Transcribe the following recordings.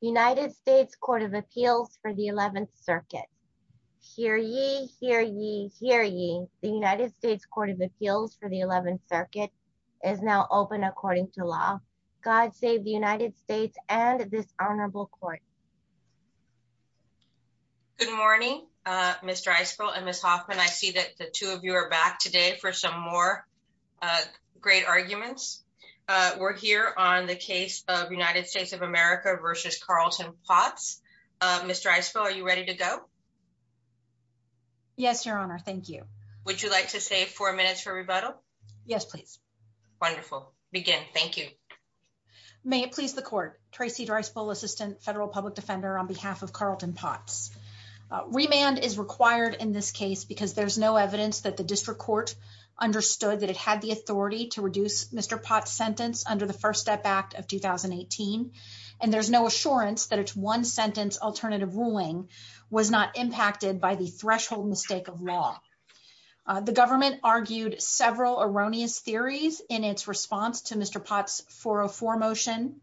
United States Court of Appeals for the 11th Circuit. Hear ye, hear ye, hear ye. The United States Court of Appeals for the 11th Circuit is now open according to law. God save the United States and this Honorable Court. Good morning, Mr. Icefield and Ms. Hoffman. I see that the two of you are back today for some more great arguments. We're here on the case of United States of America v. Carlton Potts. Mr. Icefield, are you ready to go? Yes, Your Honor. Thank you. Would you like to save four minutes for rebuttal? Yes, please. Wonderful. Begin. Thank you. May it please the Court. Tracy Driceville, Assistant Federal Public Defender on behalf of Carlton Potts. Remand is required in this case because there's no evidence that the district court understood that it had the authority to reduce Mr. Potts' sentence under the First Amendment. And there's no assurance that its one-sentence alternative ruling was not impacted by the threshold mistake of law. The government argued several erroneous theories in its response to Mr. Potts' 404 motion.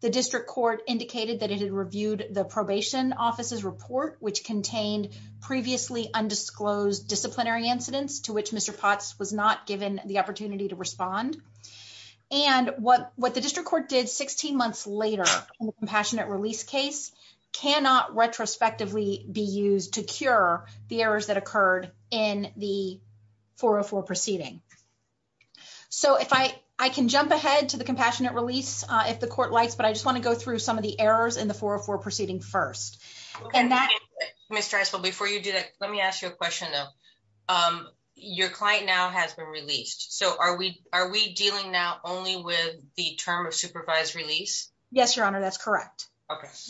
The district court indicated that it had reviewed the probation office's report, which contained previously undisclosed disciplinary incidents to which Mr. Potts was not given the opportunity to respond. And what the district court did 16 months later in the Compassionate Release case cannot retrospectively be used to cure the errors that occurred in the 404 proceeding. So, I can jump ahead to the Compassionate Release if the Court likes, but I just want to go through some of the errors in the 404 proceeding first. Ms. Driceville, before you do that, let me ask you a question, though. Your client now has been Yes, Your Honor, that's correct.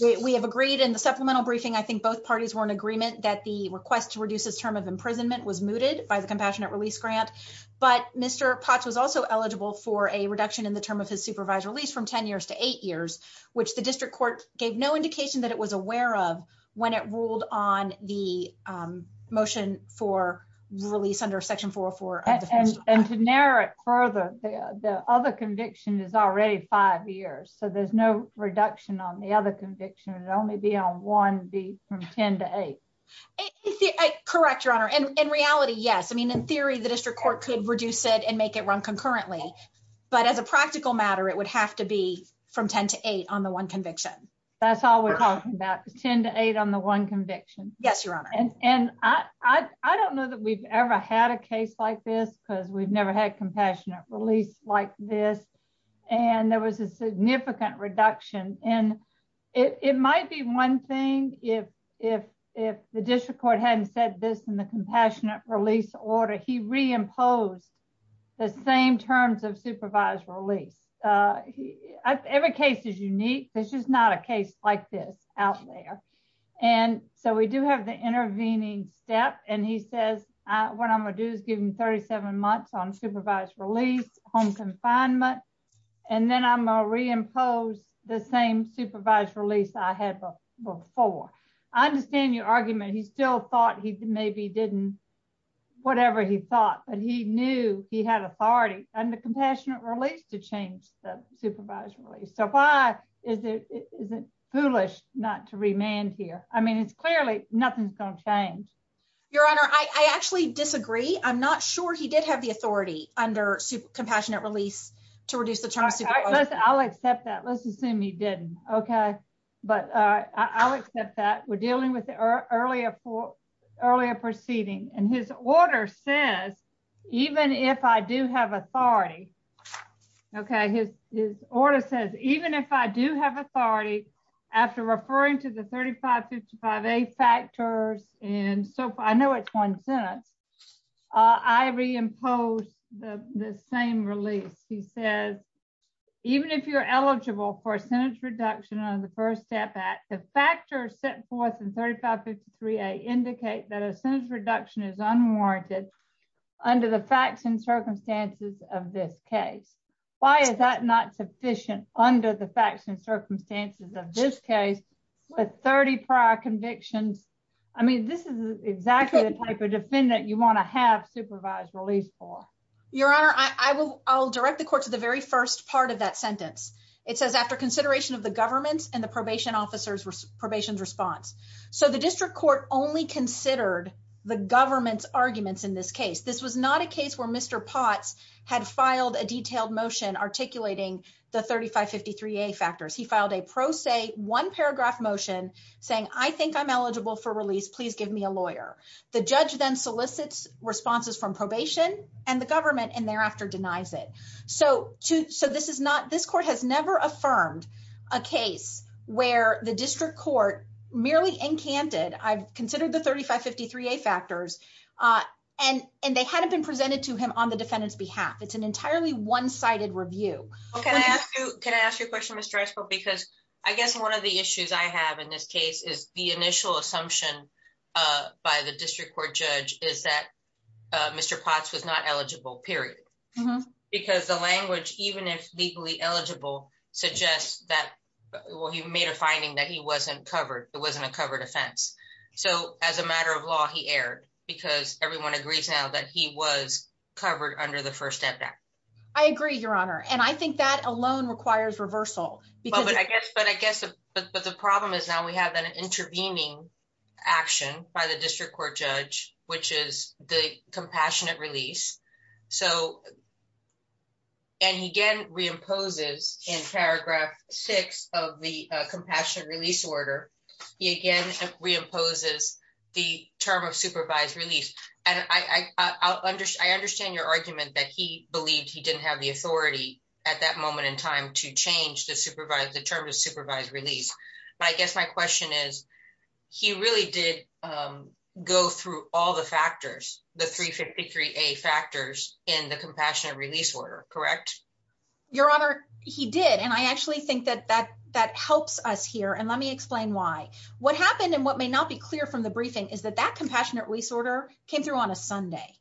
We have agreed in the supplemental briefing, I think both parties were in agreement that the request to reduce his term of imprisonment was mooted by the Compassionate Release grant, but Mr. Potts was also eligible for a reduction in the term of his supervised release from 10 years to eight years, which the district court gave no indication that it was aware of when it ruled on the motion for release under Section 404. And to narrow it further, the other conviction is already five years, so there's no reduction on the other conviction, it would only be on one from 10 to eight. Correct, Your Honor. In reality, yes. I mean, in theory, the district court could reduce it and make it run concurrently. But as a practical matter, it would have to be from 10 to eight on the one conviction. That's all we're talking about, 10 to eight on the one conviction. Yes, Your Honor. And I don't know that we've ever had a release like this. And there was a significant reduction. And it might be one thing if the district court hadn't said this in the Compassionate Release order, he reimposed the same terms of supervised release. Every case is unique. There's just not a case like this out there. And so we do have the intervening step. And he says, what I'm gonna do is give him 37 months on confinement. And then I'm gonna reimpose the same supervised release I had before. I understand your argument, he still thought he maybe didn't, whatever he thought, but he knew he had authority under Compassionate Release to change the supervised release. So why is it foolish not to remand here? I mean, it's clearly nothing's gonna change. Your Honor, I actually disagree. I'm not sure he did have the authority under Compassionate Release to reduce the terms. I'll accept that. Let's assume he didn't. Okay. But I'll accept that we're dealing with the earlier proceeding. And his order says, even if I do have authority, okay, his order says, even if I do have authority, after referring to the 3555A factors, and so I know it's one sentence, I reimpose the same release. He says, even if you're eligible for a sentence reduction on the First Step Act, the factors set forth in 3553A indicate that a sentence reduction is unwarranted under the facts and circumstances of this case. Why is that not sufficient under the facts and circumstances of this case, with 30 prior convictions? I mean, this is exactly the type defendant you wanna have supervised release for. Your Honor, I'll direct the court to the very first part of that sentence. It says, after consideration of the government's and the probation officer's probation's response. So the district court only considered the government's arguments in this case. This was not a case where Mr. Potts had filed a detailed motion articulating the 3553A factors. He filed a pro se one paragraph motion saying, I think I'm eligible for release, please give me a lawyer. The judge then solicits responses from probation and the government, and thereafter denies it. So this court has never affirmed a case where the district court merely encanted, I've considered the 3553A factors, and they hadn't been presented to him on the defendant's behalf. It's an entirely one-sided review. Can I ask you a question, because I guess one of the issues I have in this case is the initial assumption by the district court judge is that Mr. Potts was not eligible, period. Because the language, even if legally eligible, suggests that, well, he made a finding that he wasn't covered, it wasn't a covered offense. So as a matter of law, he erred, because everyone agrees now that he was covered under the First Step Act. I agree, Your Honor. And I think that alone requires reversal. But the problem is now we have an intervening action by the district court judge, which is the compassionate release. And he again reimposes in paragraph six of the compassionate release order, he again reimposes the term of supervised release. And I understand your argument that he believed he didn't have the authority at that moment in time to change the term of supervised release. But I guess my question is, he really did go through all the factors, the 3553A factors in the compassionate release order, correct? Your Honor, he did. And I actually think that that helps us here. And let me explain why. What happened and what may not be clear from the briefing is that that compassionate release order came through on a Sunday.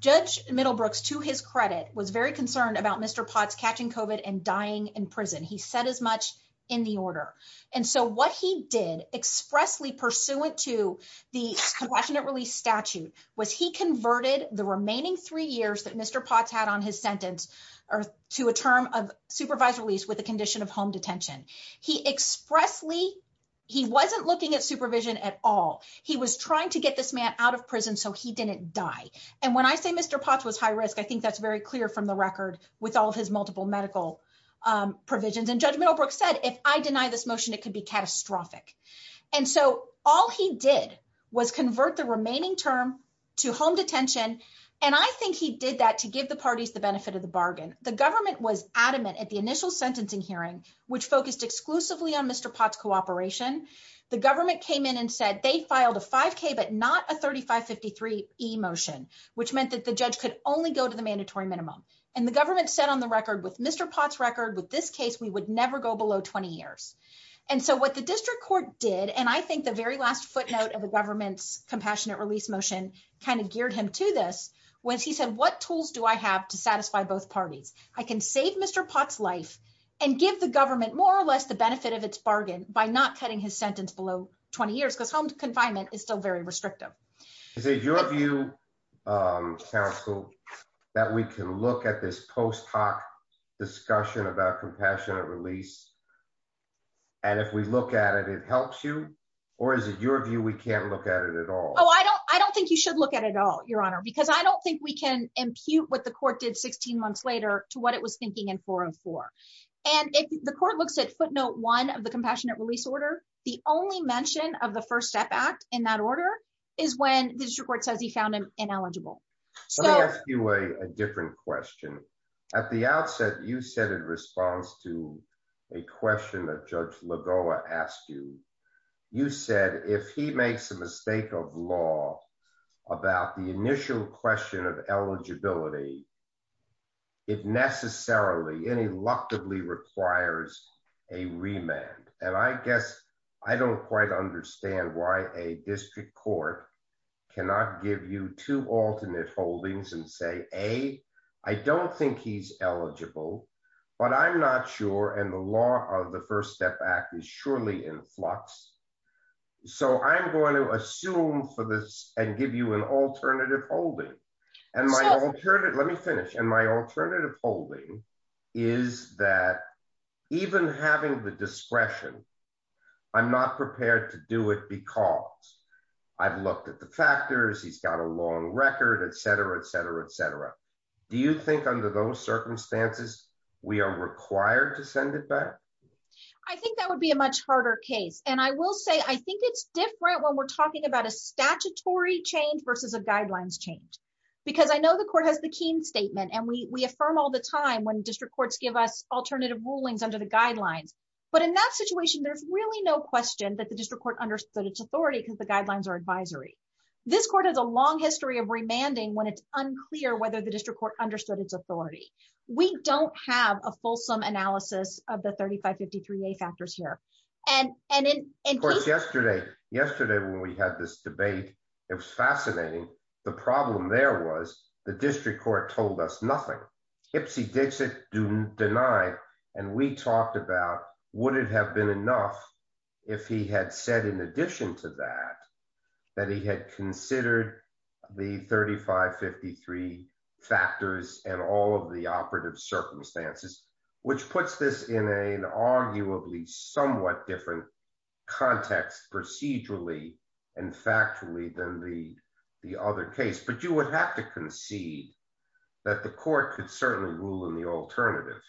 Judge Middlebrooks, to his credit, was very concerned about Mr. Potts catching COVID and dying in prison. He said as much in the order. And so what he did expressly pursuant to the compassionate release statute was he converted the remaining three years that Mr. Potts had on his sentence, or to a term of supervised release with the condition of home detention. He expressly, he wasn't looking at supervision at all. He was trying to get this man out of prison so he didn't die. And when I say Mr. Potts was high risk, I think that's very clear from the record with all of his multiple medical provisions. And Judge Middlebrooks said, if I deny this motion, it could be catastrophic. And so all he did was convert the remaining term to home detention. And I think he did that to give the parties the benefit of the bargain. The government was adamant at the initial sentencing hearing, which focused exclusively on Mr. Potts' cooperation. The which meant that the judge could only go to the mandatory minimum. And the government said on the record with Mr. Potts' record, with this case, we would never go below 20 years. And so what the district court did, and I think the very last footnote of the government's compassionate release motion kind of geared him to this, was he said, what tools do I have to satisfy both parties? I can save Mr. Potts' life and give the government more or less the benefit of its bargain by not cutting his sentence below 20 years, because home confinement is still very restrictive. Is it your view, counsel, that we can look at this post hoc discussion about compassionate release? And if we look at it, it helps you? Or is it your view, we can't look at it at all? Oh, I don't, I don't think you should look at it at all, Your Honor, because I don't think we can impute what the court did 16 months later to what it was thinking in 404. And if the court looks at footnote one of the compassionate release order, the only mention of the First Step Act in that is when the district court says he found him ineligible. Let me ask you a different question. At the outset, you said in response to a question that Judge Lagoa asked you, you said if he makes a mistake of law about the initial question of eligibility, it necessarily, ineluctably requires a remand. And I guess I don't quite understand why a district court cannot give you two alternate holdings and say, A, I don't think he's eligible. But I'm not sure and the law of the First Step Act is surely in flux. So I'm going to assume for this and give you an alternative holding. And let me finish. And my alternative holding is that even having the discretion, I'm not prepared to do it because I've looked at the factors, he's got a long record, etc, etc, etc. Do you think under those circumstances, we are required to send it back? I think that would be a much harder case. And I will say I think it's different when we're statutory change versus a guidelines change. Because I know the court has the Keene statement, and we affirm all the time when district courts give us alternative rulings under the guidelines. But in that situation, there's really no question that the district court understood its authority because the guidelines are advisory. This court has a long history of remanding when it's unclear whether the district court understood its authority. We don't have a fulsome analysis of the 3553 factors here. And, and, and yesterday, yesterday, when we had this debate, it was fascinating. The problem there was the district court told us nothing. Ipsy Dixit do deny. And we talked about would it have been enough, if he had said in addition to that, that he had considered the 3553 factors and all of the operative circumstances, which puts this in an arguably somewhat different context procedurally, and factually than the other case, but you would have to concede that the court could certainly rule in the alternative.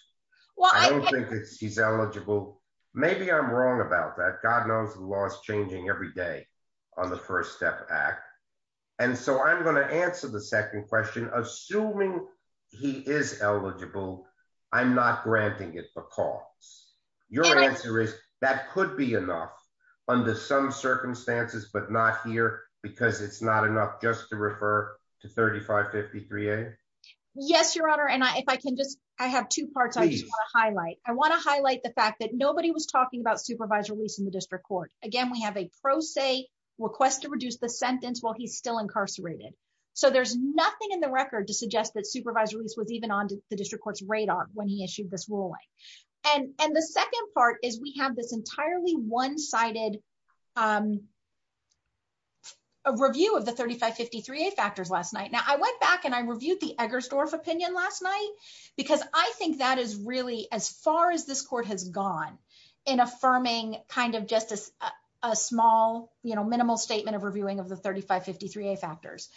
Well, I think he's eligible. Maybe I'm wrong about that. God knows the law is changing every day on the First Step Act. And so I'm going to answer the second question, assuming he is eligible. I'm not granting it because your answer is that could be enough under some circumstances, but not here, because it's not enough just to refer to 3553. Yes, Your Honor. And I, if I can just, I have two parts I want to highlight. I want to highlight the fact that nobody was talking about supervised release in the district court. Again, we have a pro se request to reduce the sentence while he's still incarcerated. So there's nothing in the record to suggest that supervised release was even on the district court's radar when he issued this ruling. And the second part is we have this entirely one sided review of the 3553 factors last night. Now, I went back and I reviewed the Eggersdorf opinion last night, because I think that is really as far as this court has gone in affirming kind of just a small, you know, minimal statement of reviewing of the 3553 factors.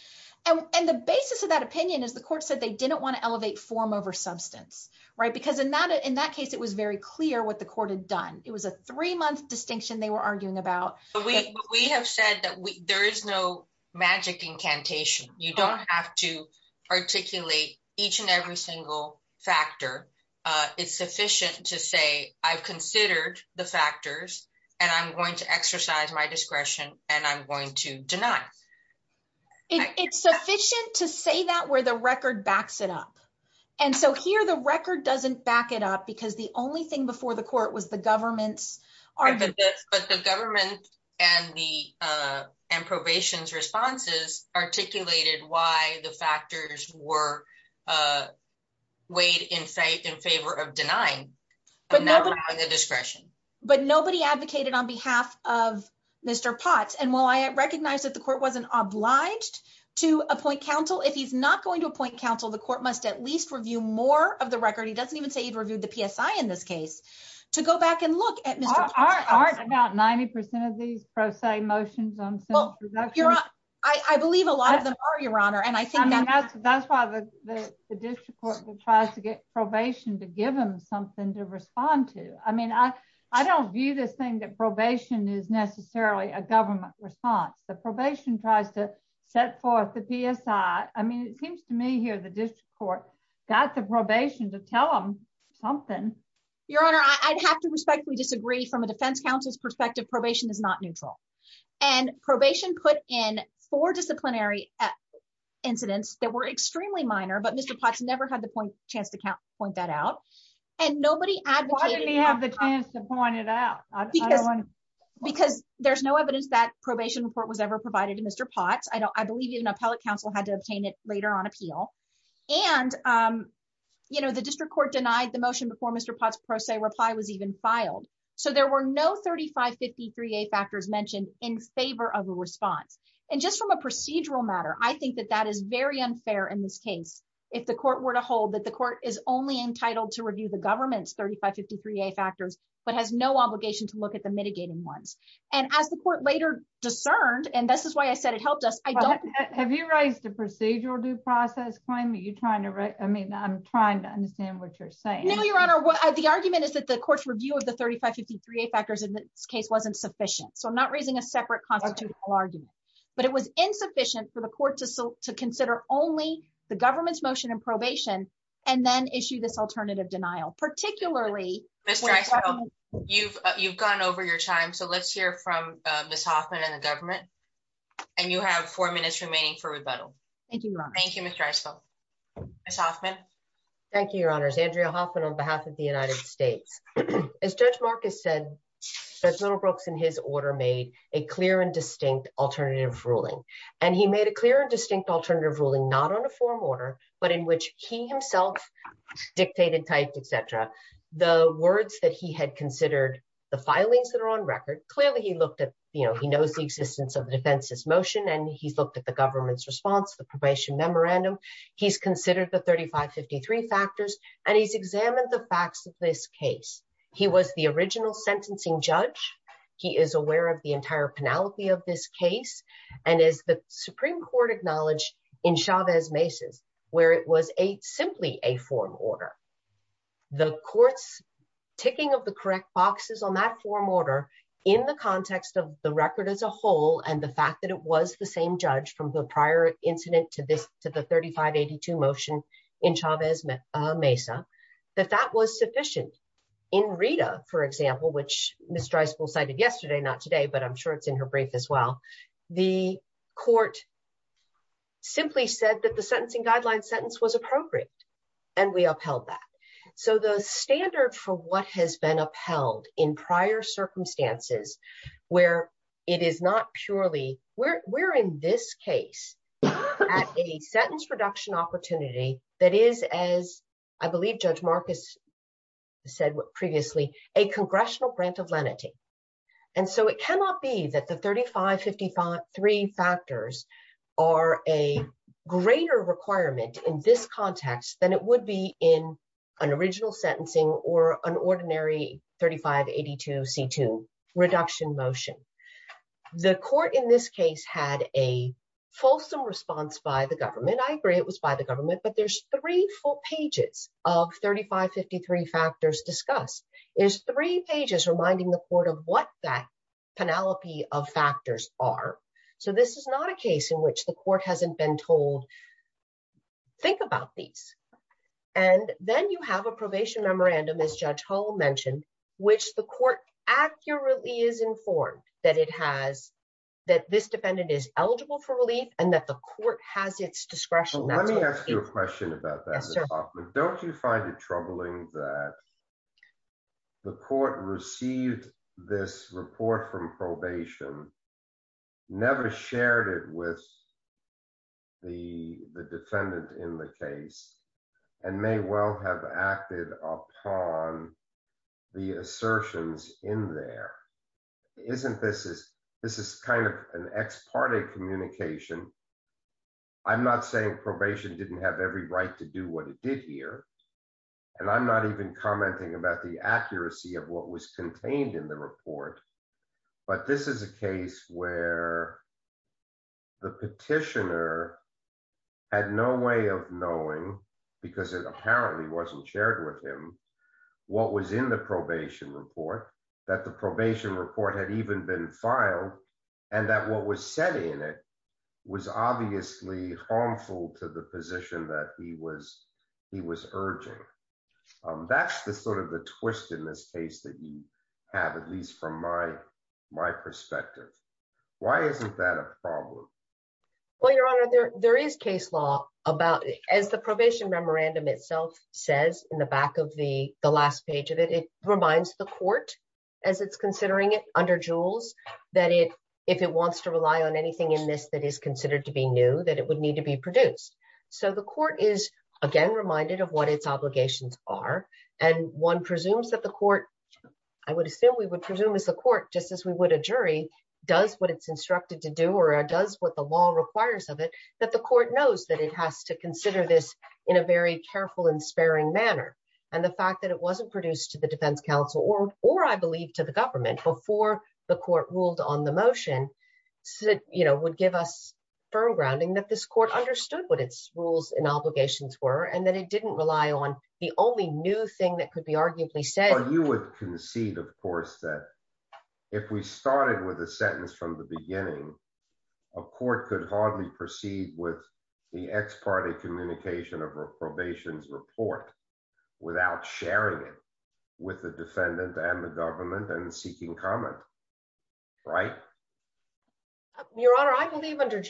And the basis of that opinion is the court said they didn't want to elevate form over substance, right? Because in that in that case, it was very clear what the court had done. It was a three month distinction they were arguing about. We have said that there is no magic incantation, you don't have to articulate each and every single factor. It's sufficient to say, I've considered the factors, and I'm going to exercise my discretion, and I'm going to deny. It's sufficient to say that where the record backs it up. And so here, the record doesn't back it up, because the only thing before the court was the government's argument. But the government and the probation's responses articulated why the factors were weighed in favor of denying, and not allowing the discretion. But nobody advocated on behalf of the court wasn't obliged to appoint counsel, if he's not going to appoint counsel, the court must at least review more of the record. He doesn't even say he'd reviewed the PSI in this case, to go back and look at about 90% of these pro se motions. I believe a lot of them are your honor. And I think that's why the district court tries to get probation to give them something to respond to. I mean, I, I don't view this thing that probation is necessarily a government response. The probation tries to set forth the PSI. I mean, it seems to me here, the district court, got the probation to tell them something. Your honor, I'd have to respectfully disagree from a defense counsel's perspective, probation is not neutral. And probation put in four disciplinary incidents that were extremely minor, but Mr. Potts never had the point chance to count point that out. And nobody had the chance to point it out. Because there's no evidence that probation was ever provided to Mr. Potts. I don't, I believe even appellate counsel had to obtain it later on appeal. And, you know, the district court denied the motion before Mr. Potts pro se reply was even filed. So there were no 3553a factors mentioned in favor of a response. And just from a procedural matter, I think that that is very unfair in this case, if the court were to hold that the court is only entitled to review the government's 3553a factors, but has no obligation to look at the and this is why I said it helped us. I don't have you raised a procedural due process claim that you're trying to write. I mean, I'm trying to understand what you're saying. No, your honor, what the argument is that the court's review of the 3553a factors in this case wasn't sufficient. So I'm not raising a separate constitutional argument. But it was insufficient for the court to sell to consider only the government's motion and probation, and then issue this alternative denial, particularly. You've, you've gone over your time. So let's hear from Miss Hoffman and government. And you have four minutes remaining for rebuttal. Thank you. Thank you, Mr. Iso. Miss Hoffman. Thank you, your honors, Andrea Hoffman, on behalf of the United States. As Judge Marcus said, little Brooks in his order made a clear and distinct alternative ruling. And he made a clear and distinct alternative ruling not on a forum order, but in which he himself dictated, typed, etc. The words that he had considered the filings that are on record, clearly, he looked at, you know, he knows the existence of the defense's motion. And he's looked at the government's response, the probation memorandum, he's considered the 3553 factors, and he's examined the facts of this case. He was the original sentencing judge, he is aware of the entire penalty of this case. And as the Supreme Court acknowledged, in Chavez Mesa, where it was a forum order, the court's ticking of the correct boxes on that forum order, in the context of the record as a whole, and the fact that it was the same judge from the prior incident to this to the 3582 motion in Chavez Mesa, that that was sufficient. In Rita, for example, which Mr. Isabel cited yesterday, not today, but I'm sure it's in her brief as well. The court simply said that the sentencing guideline sentence was appropriate. And we upheld that. So the standard for what has been upheld in prior circumstances, where it is not purely, we're in this case, at a sentence reduction opportunity, that is, as I believe Judge Marcus said previously, a congressional grant of lenity. And so it cannot be that the 3553 factors are a greater requirement in this context than it would be in an original sentencing or an ordinary 3582 C2 reduction motion. The court in this case had a fulsome response by the government. I agree it was by the government, but there's three full pages of 3553 factors discussed. There's three cases in which the court hasn't been told, think about these. And then you have a probation memorandum, as Judge Hull mentioned, which the court accurately is informed that it has, that this defendant is eligible for relief and that the court has its discretion. Let me ask you a question about that. Don't you find it troubling that the court received this report from probation, never shared it with the defendant in the case, and may well have acted upon the assertions in there? Isn't this, this is kind of an ex parte communication. I'm not saying probation didn't have every right to do what it did here. And I'm not even commenting about the accuracy of what was contained in the report, but this is a case where the petitioner had no way of knowing, because it apparently wasn't shared with him, what was in the probation report, that the probation report had even been filed, and that what was said in it was obviously harmful to the position that he was urging. That's the sort of the twist in this case that you have, at least from my perspective. Why isn't that a problem? Well, Your Honor, there is case law about, as the probation memorandum itself says in the back of the last page of it, it reminds the court, as it's considering it under Jules, that if it wants to rely on anything in this that is considered to be new, that it would need to be produced. So the court is, again, reminded of what its obligations are, and one presumes that the court, I would assume we would presume as the court, just as we would a jury, does what it's instructed to do, or does what the law requires of it, that the court knows that it has to consider this in a very careful and sparing manner. And the fact that it wasn't produced to the defense counsel, or I believe to the government before the court ruled on the motion, would give us firm grounding that this court understood what its rules and obligations were, and that it didn't rely on the only new thing that could be arguably said. You would concede, of course, that if we started with a sentence from the beginning, a court could hardly proceed with the ex parte communication of a probation's report. Without sharing it with the defendant and the government and seeking comment, right? Your Honor, I believe under,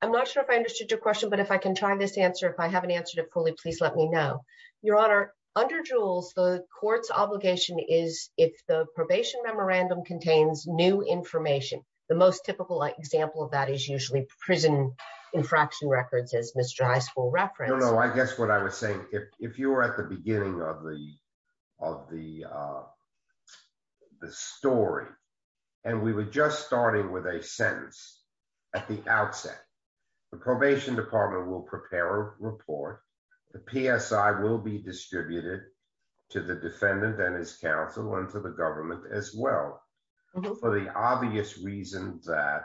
I'm not sure if I understood your question, but if I can try this answer, if I haven't answered it fully, please let me know. Your Honor, under Jules, the court's obligation is if the probation memorandum contains new information, the most typical example of that is usually prison infraction records, as Mr. High School referenced. No, no, I guess what I was saying, if you were at the beginning of the story, and we were just starting with a sentence at the outset, the probation department will prepare a report, the PSI will be distributed to the defendant and his counsel and to the government as well, for the obvious reason that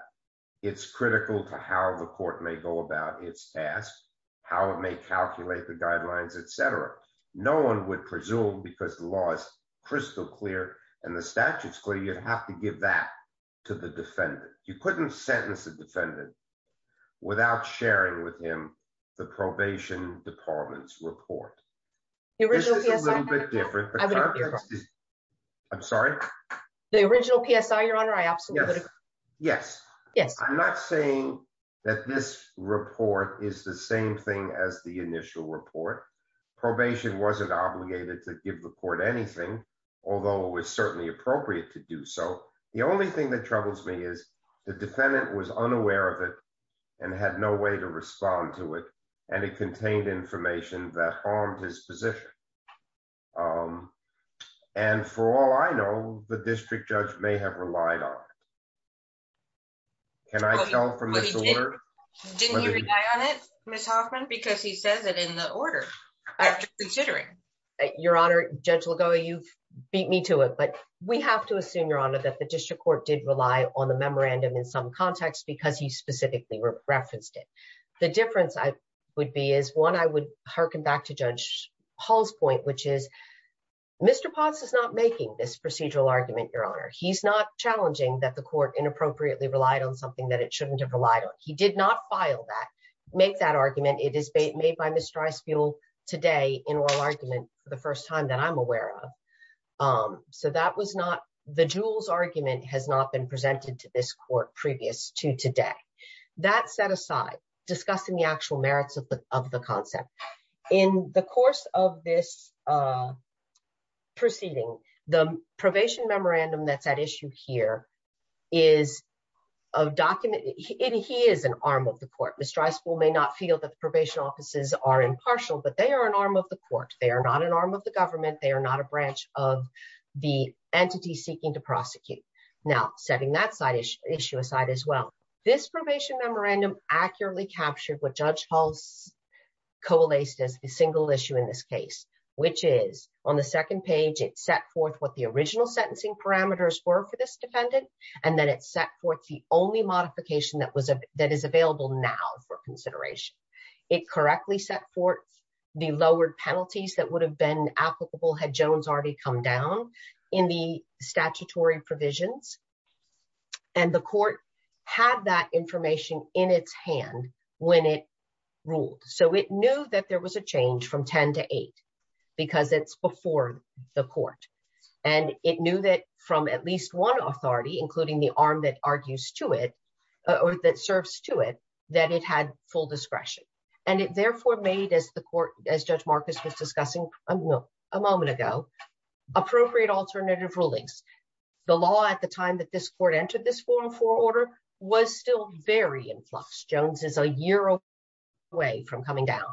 it's critical to how the court may go about its task, how it may calculate the guidelines, et cetera. No one would presume because the law is crystal clear and the statute's clear, you'd have to give that to the defendant. You couldn't sentence the defendant without sharing with him the probation department's report. This is a little bit different. I'm sorry? The original PSI, Your Honor, I absolutely agree. Yes. Yes. I'm not saying that this report is the same thing as the initial report. Probation wasn't obligated to give the court anything, although it was certainly appropriate to do so. The only thing that troubles me is the defendant was unaware of it and had no way to respond to it, and it contained information that harmed his position. And for all I know, the district judge may have relied on it. Can I tell from this order? Didn't you rely on it, Ms. Hoffman? Because he says it in the order, after considering. Your Honor, gentle going, you've beat me to it. But we have to assume, Your Honor, that the district court did rely on the memorandum in some context because he specifically referenced it. The difference would be is, one, I would hearken back to Judge Paul's point, which is Mr. Potts is not making this procedural argument, Your Honor. He's not challenging that the court inappropriately relied on something that it shouldn't have relied on. He did not file that, make that argument. It is made by Ms. Streisfeld today in oral argument for the first time that I'm aware of. So that was not, the Jewel's argument has not been presented to this court previous to today. That set aside, discussing the actual merits of the concept. In the course of this proceeding, the probation memorandum that's at issue here is a document, and he is an arm of the court. Ms. Streisfeld may not feel that the probation offices are impartial, but they are an arm of the court. They are not an arm of the government. They are not a branch of the entity seeking to prosecute. Now, setting that issue aside as well, this probation memorandum accurately captured what Judge Hall coalesced as the single issue in this case, which is on the second page, it set forth what the original sentencing parameters were for this defendant. And then it set forth the only modification that is available now for consideration. It correctly set forth the lowered penalties that would have been applicable had Jones already come down in the when it ruled. So it knew that there was a change from 10 to 8, because it's before the court. And it knew that from at least one authority, including the arm that argues to it, or that serves to it, that it had full discretion. And it therefore made as the court, as Judge Marcus was discussing a moment ago, appropriate alternative rulings. The law at the time that this court away from coming down.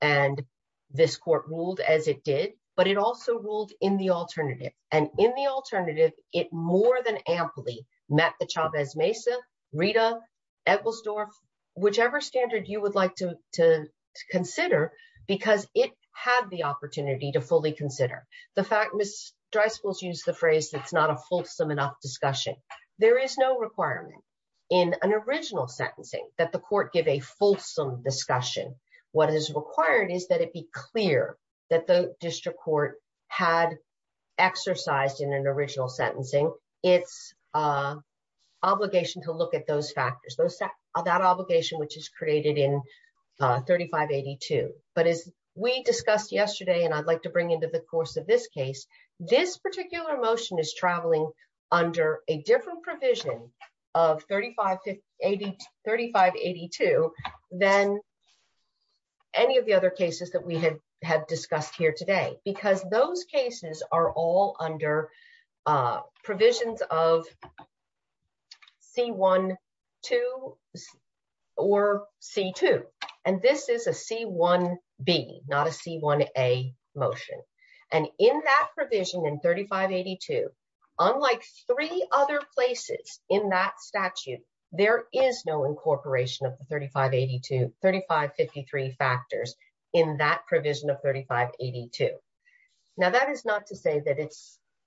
And this court ruled as it did, but it also ruled in the alternative. And in the alternative, it more than amply met the Chavez-Mesa, Rita, Edwards-Dorf, whichever standard you would like to consider, because it had the opportunity to fully consider. The fact, Ms. Dreisbosch used the phrase, it's not a fulsome enough discussion. There is no requirement in an original sentencing that the court give a fulsome discussion. What is required is that it be clear that the district court had exercised in an original sentencing, it's obligation to look at those factors, that obligation, which is created in 3582. But as we discussed yesterday, and I'd like to bring into the course of this case, this particular motion is traveling under a different provision of 3582 than any of the other cases that we had discussed here today, because those cases are all under provisions of C-1-2 or C-2. And this is a C-1-B, not a C-1-A motion. And in that provision in 3582, unlike three other places in that statute, there is no incorporation of the 3553 factors in that provision of 3582. Now, that is not to say that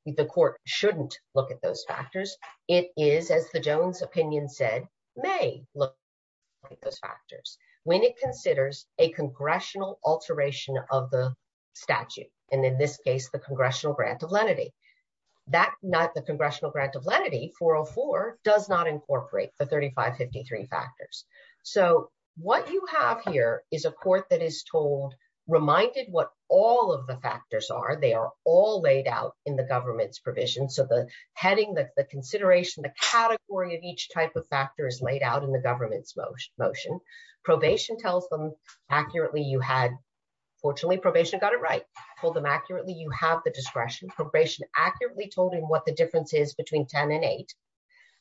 the court shouldn't look at those factors. It is, as the Jones opinion said, may look at those statute, and in this case, the Congressional Grant of Lenity. That not the Congressional Grant of Lenity 404 does not incorporate the 3553 factors. So what you have here is a court that is told, reminded what all of the factors are. They are all laid out in the government's provision. So the heading, the consideration, the category of each type of factor is laid out in the government's motion. Probation tells them accurately you had, fortunately, probation got it right. Told them accurately you have the discretion. Probation accurately told him what the difference is between 10 and 8.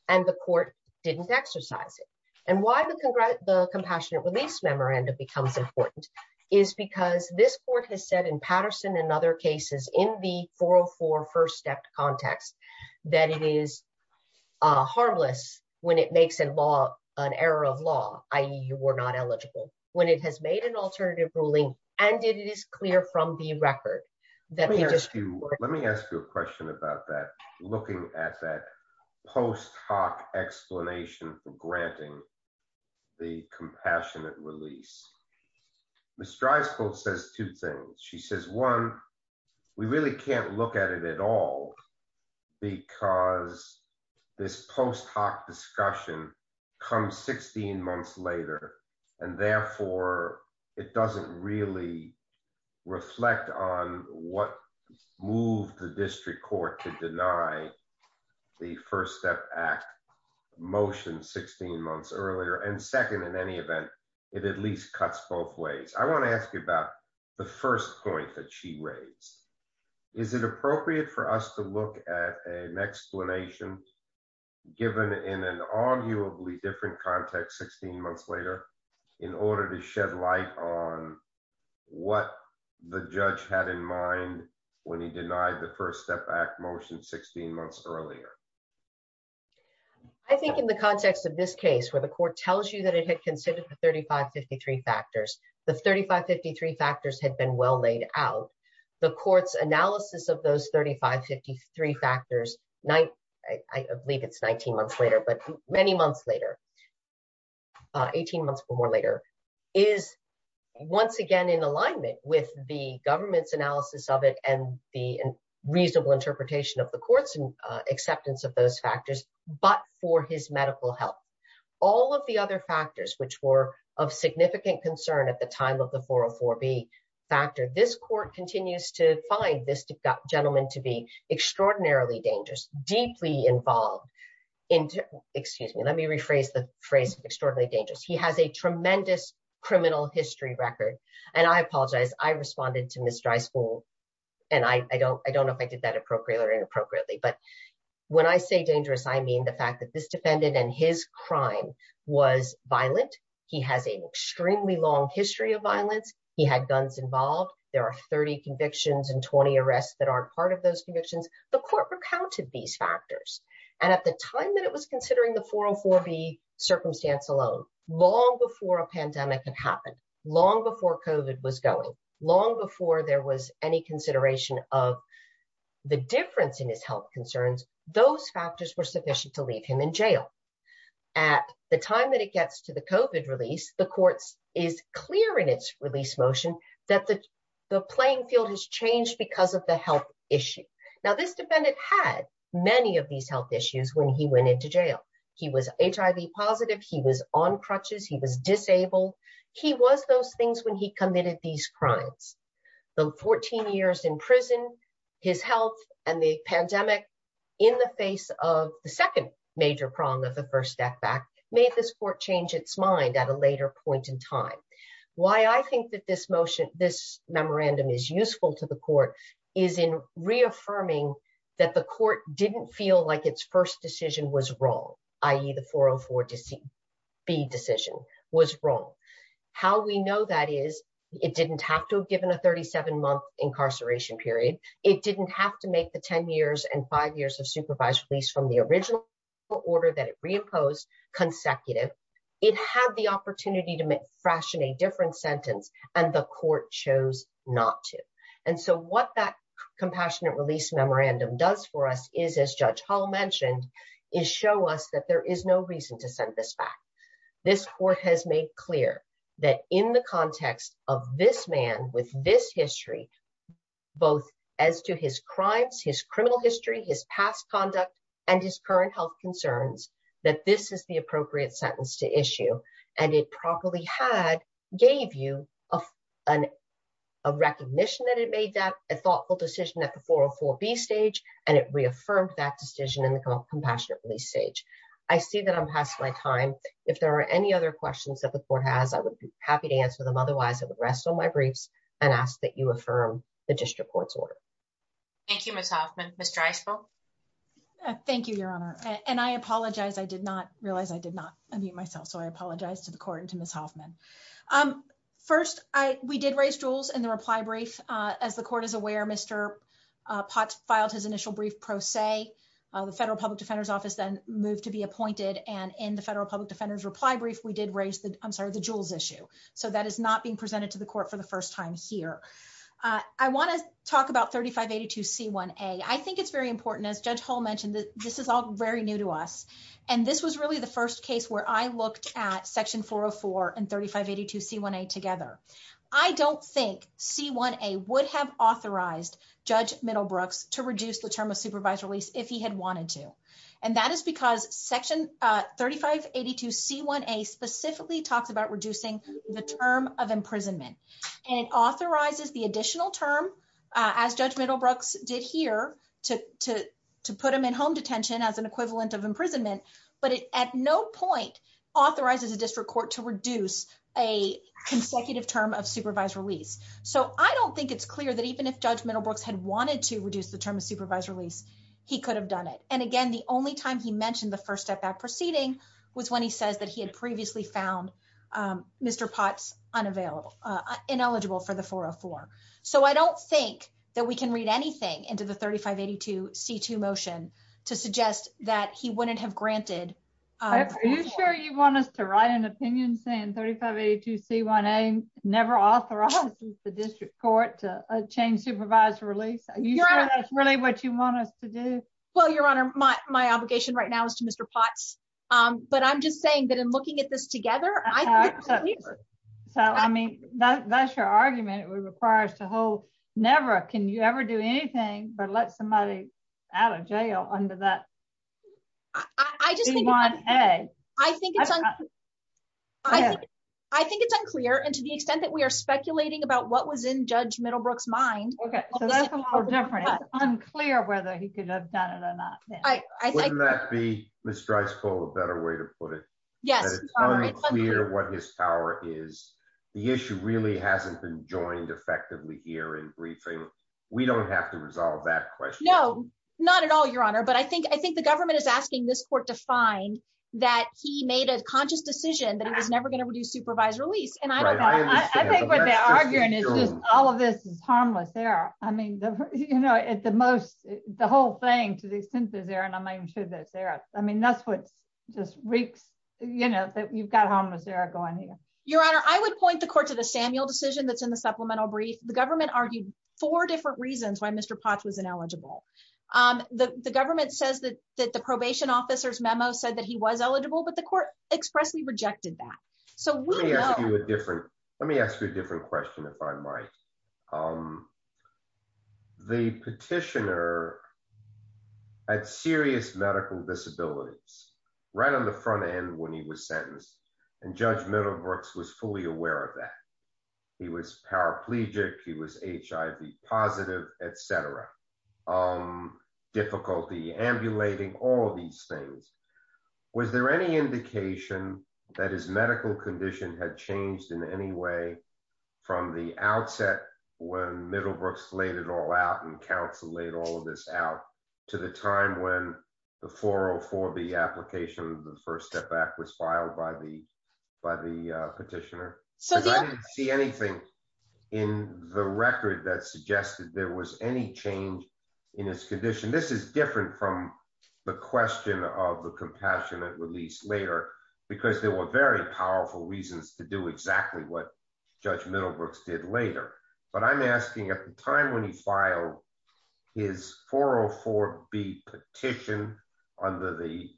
And the court didn't exercise it. And why the compassionate release memorandum becomes important is because this court has said in Patterson and other cases in the 404 first step context, that it is harmless when it makes an error of law, i.e. you were not eligible, when it has made an alternative ruling, and it is clear from the record. Let me ask you a question about that, looking at that post hoc explanation for granting the compassionate release. Ms. Drysdale says two things. She says, one, we really can't look at it at all because this post hoc discussion comes 16 months later. And therefore, it doesn't really reflect on what moved the district court to deny the first step act motion 16 months earlier. And second, in any event, it at least cuts both ways. I want to ask you about the first point that she raised. Is it appropriate for us to look at an explanation given in an arguably different context 16 months later in order to shed light on what the judge had in mind when he denied the first step act motion 16 months earlier? I think in the context of this case, where the court tells you that it had considered the 3553 factors, the 3553 factors had been well laid out, the court's analysis of those 3553 factors, I believe it's 19 months later, but many months later, 18 months or more later, is once again in alignment with the government's analysis of it and the reasonable interpretation of the court's acceptance of those factors, but for his medical health. All of the other factors which were of significant concern at the time of the 404B factor, this court continues to find this gentleman to be extraordinarily dangerous, deeply involved in, excuse me, let me rephrase the phrase extraordinarily dangerous. He has a tremendous criminal history record. And I apologize, I responded to Ms. Dryspool. And I don't know if I did that appropriately or inappropriately. But when I say dangerous, I mean the fact that this defendant and his crime was violent. He has an extremely long history of violence. He had guns involved. There are 30 convictions and 20 arrests that aren't part of those convictions. The court recounted these factors. And at the time that it was considering the 404B circumstance alone, long before a pandemic had happened, long before COVID was going, long before there was any consideration of the difference in his health concerns, those factors were sufficient to leave him in jail. At the time that it gets to the COVID release, the court is clear in its release motion that the playing field has changed because of the health issue. Now, this defendant had many of these health issues when he went into jail. He was HIV positive. He was HIV positive. And he committed these crimes. The 14 years in prison, his health, and the pandemic in the face of the second major problem of the first step back made this court change its mind at a later point in time. Why I think that this motion, this memorandum is useful to the court is in reaffirming that the court didn't feel like its first decision was wrong, i.e., the 404B decision was wrong. How we know that is it didn't have to have given a 37-month incarceration period. It didn't have to make the 10 years and five years of supervised release from the original order that it reimposed consecutive. It had the opportunity to fraction a different sentence, and the court chose not to. And so what that compassionate release memorandum does for us is, as Judge Hall mentioned, is show us that there is no reason to send this back. This court has made clear that in the context of this man with this history, both as to his crimes, his criminal history, his past conduct, and his current health concerns, that this is the appropriate sentence to issue. And it properly gave you a recognition that it made that a decision in the compassionate release stage. I see that I'm past my time. If there are any other questions that the court has, I would be happy to answer them. Otherwise, I would rest on my briefs and ask that you affirm the district court's order. Thank you, Ms. Hoffman. Ms. Dreisbruch? Thank you, Your Honor. And I apologize. I did not realize I did not unmute myself, so I apologize to the court and to Ms. Hoffman. First, we did raise jewels in the reply brief. As the court is aware, Mr. Potts filed his initial brief pro se. The Federal Public Defender's Office then moved to be appointed. And in the Federal Public Defender's reply brief, we did raise the jewels issue. So that is not being presented to the court for the first time here. I want to talk about 3582C1A. I think it's very important, as Judge Hall mentioned, this is all very new to us. And this was really the first case where I looked at section 404 and 3582C1A together. I don't think C1A would have authorized Judge Middlebrooks to reduce the term of supervised release if he had wanted to. And that is because section 3582C1A specifically talks about reducing the term of imprisonment. And it authorizes the additional term, as Judge Middlebrooks did here, to put him in home detention as an equivalent of imprisonment. But it at no point authorizes a district court to reduce a consecutive term of supervised release. So I don't think it's clear that even if Judge Middlebrooks had wanted to reduce the term of supervised release, he could have done it. And again, the only time he mentioned the first step back proceeding was when he says that he had previously found Mr. Potts ineligible for the 404. So I don't think that we can read anything into the 3582C2 motion to suggest that he wouldn't have granted 404. Are you sure you want us to write an opinion saying 3582C1A never authorizes the district court to change supervised release? Are you sure that's really what you want us to do? Well, Your Honor, my obligation right now is to Mr. Potts. But I'm just saying that in looking at this together, I think it's clear. So, I mean, that's your argument. It requires the whole Never. Can you ever do anything but let somebody out of jail under that C1A? I think it's unclear. And to the extent that we are speculating about what was in Judge Middlebrooks' mind, it's unclear whether he could have done it or not. Wouldn't that be, Ms. Dreisbach, a better way to put it? Yes. It's unclear what his power is. The issue really hasn't been joined effectively here in briefing. We don't have to resolve that question. No, not at all, Your Honor. But I think the government is asking this court to find that he made a conscious decision that he was never going to reduce supervised release. And I don't know. I think what they're arguing is just all of this is harmless error. I mean, you know, at the most, the whole thing, to the extent that's there, and I'm not even sure that's there. I mean, that's what just reeks, you know, that you've got harmless error going here. Your Honor, I would point the court to the Samuel decision that's in the supplemental brief. The government argued four different reasons why Mr. Potts was ineligible. The government says that the probation officer's memo said that he was eligible, but the court expressly rejected that. Let me ask you a different question, if I might. The petitioner had serious medical disabilities right on the front end when he was sentenced, and Judge Middlebrooks was fully aware of that. He was paraplegic. He was HIV positive, et cetera. Difficulty ambulating, all of these things. Was there any indication that his medical condition had changed in any way from the outset when Middlebrooks laid it all out and counsel laid all of this out to the time when the 404B application, the First Step Act was filed by the petitioner? Because I didn't see anything in the record that suggested there was any change in his condition. This is different from the question of the compassionate release later, because there were very powerful reasons to do exactly what Judge Middlebrooks did later. But I'm asking at the time when he filed his 404B petition under the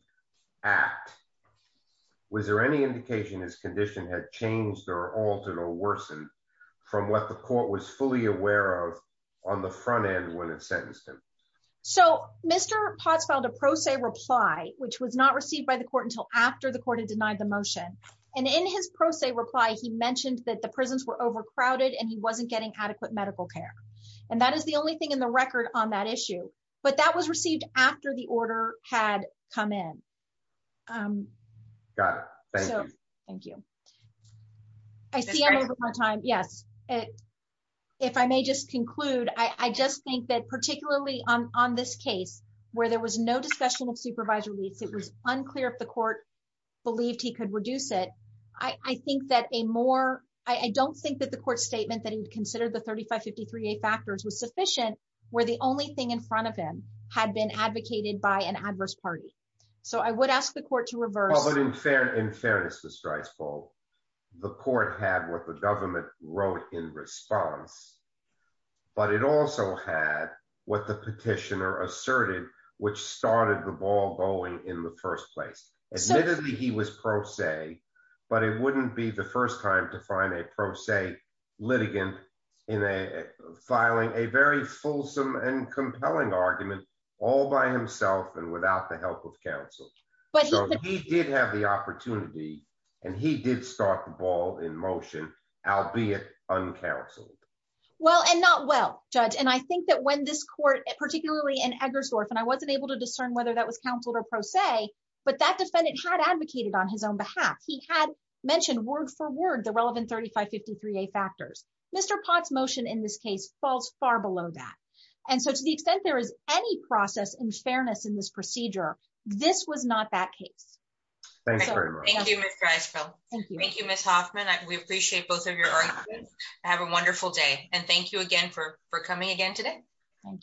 Act, was there any indication his condition had changed or altered or worsened from what the court was fully aware of on the front end when it sentenced him? So Mr. Potts filed a pro se reply, which was not received by the court until after the court had denied the motion. And in his pro se reply, he mentioned that the prisons were overcrowded and he wasn't getting adequate medical care. And that is the only thing in the record on that issue. But that was received after the order had come in. Got it. Thank you. Thank you. I see I'm over my time. Yes. If I may just conclude, I just think that particularly on this case, where there was no discussion of supervised release, it was unclear if the court believed he could reduce it. I think that a more, I don't think that the court statement that he would consider the 3553A factors was sufficient, where the only thing in front of him had been advocated by an adverse party. So I would ask the court to reverse- Well, but in fairness, Ms. Dreisbold, the court had what the government wrote in response. But it also had what the petitioner asserted, which started the ball going in the first place. Admittedly, he was pro se, but it wouldn't be the first time to find a pro se litigant in a filing a very fulsome and compelling argument all by himself and without the help of counsel. But he did have the opportunity, and he did start the ball in motion, albeit uncounseled. Well, and not well, Judge. And I think that when this court, particularly in Eggersdorf, and I wasn't able to discern whether that was counseled or pro se, but that defendant had advocated on his own behalf. He had mentioned word for word the relevant 3553A factors. Mr. Potts' motion in this case falls far below that. And so to the extent there is any process in fairness in this procedure, this was not that case. Thank you very much. Thank you, Ms. Dreisbold. Thank you, Ms. Hoffman. We appreciate both of your arguments. Have a wonderful day. And thank you again for coming again today. Thank you.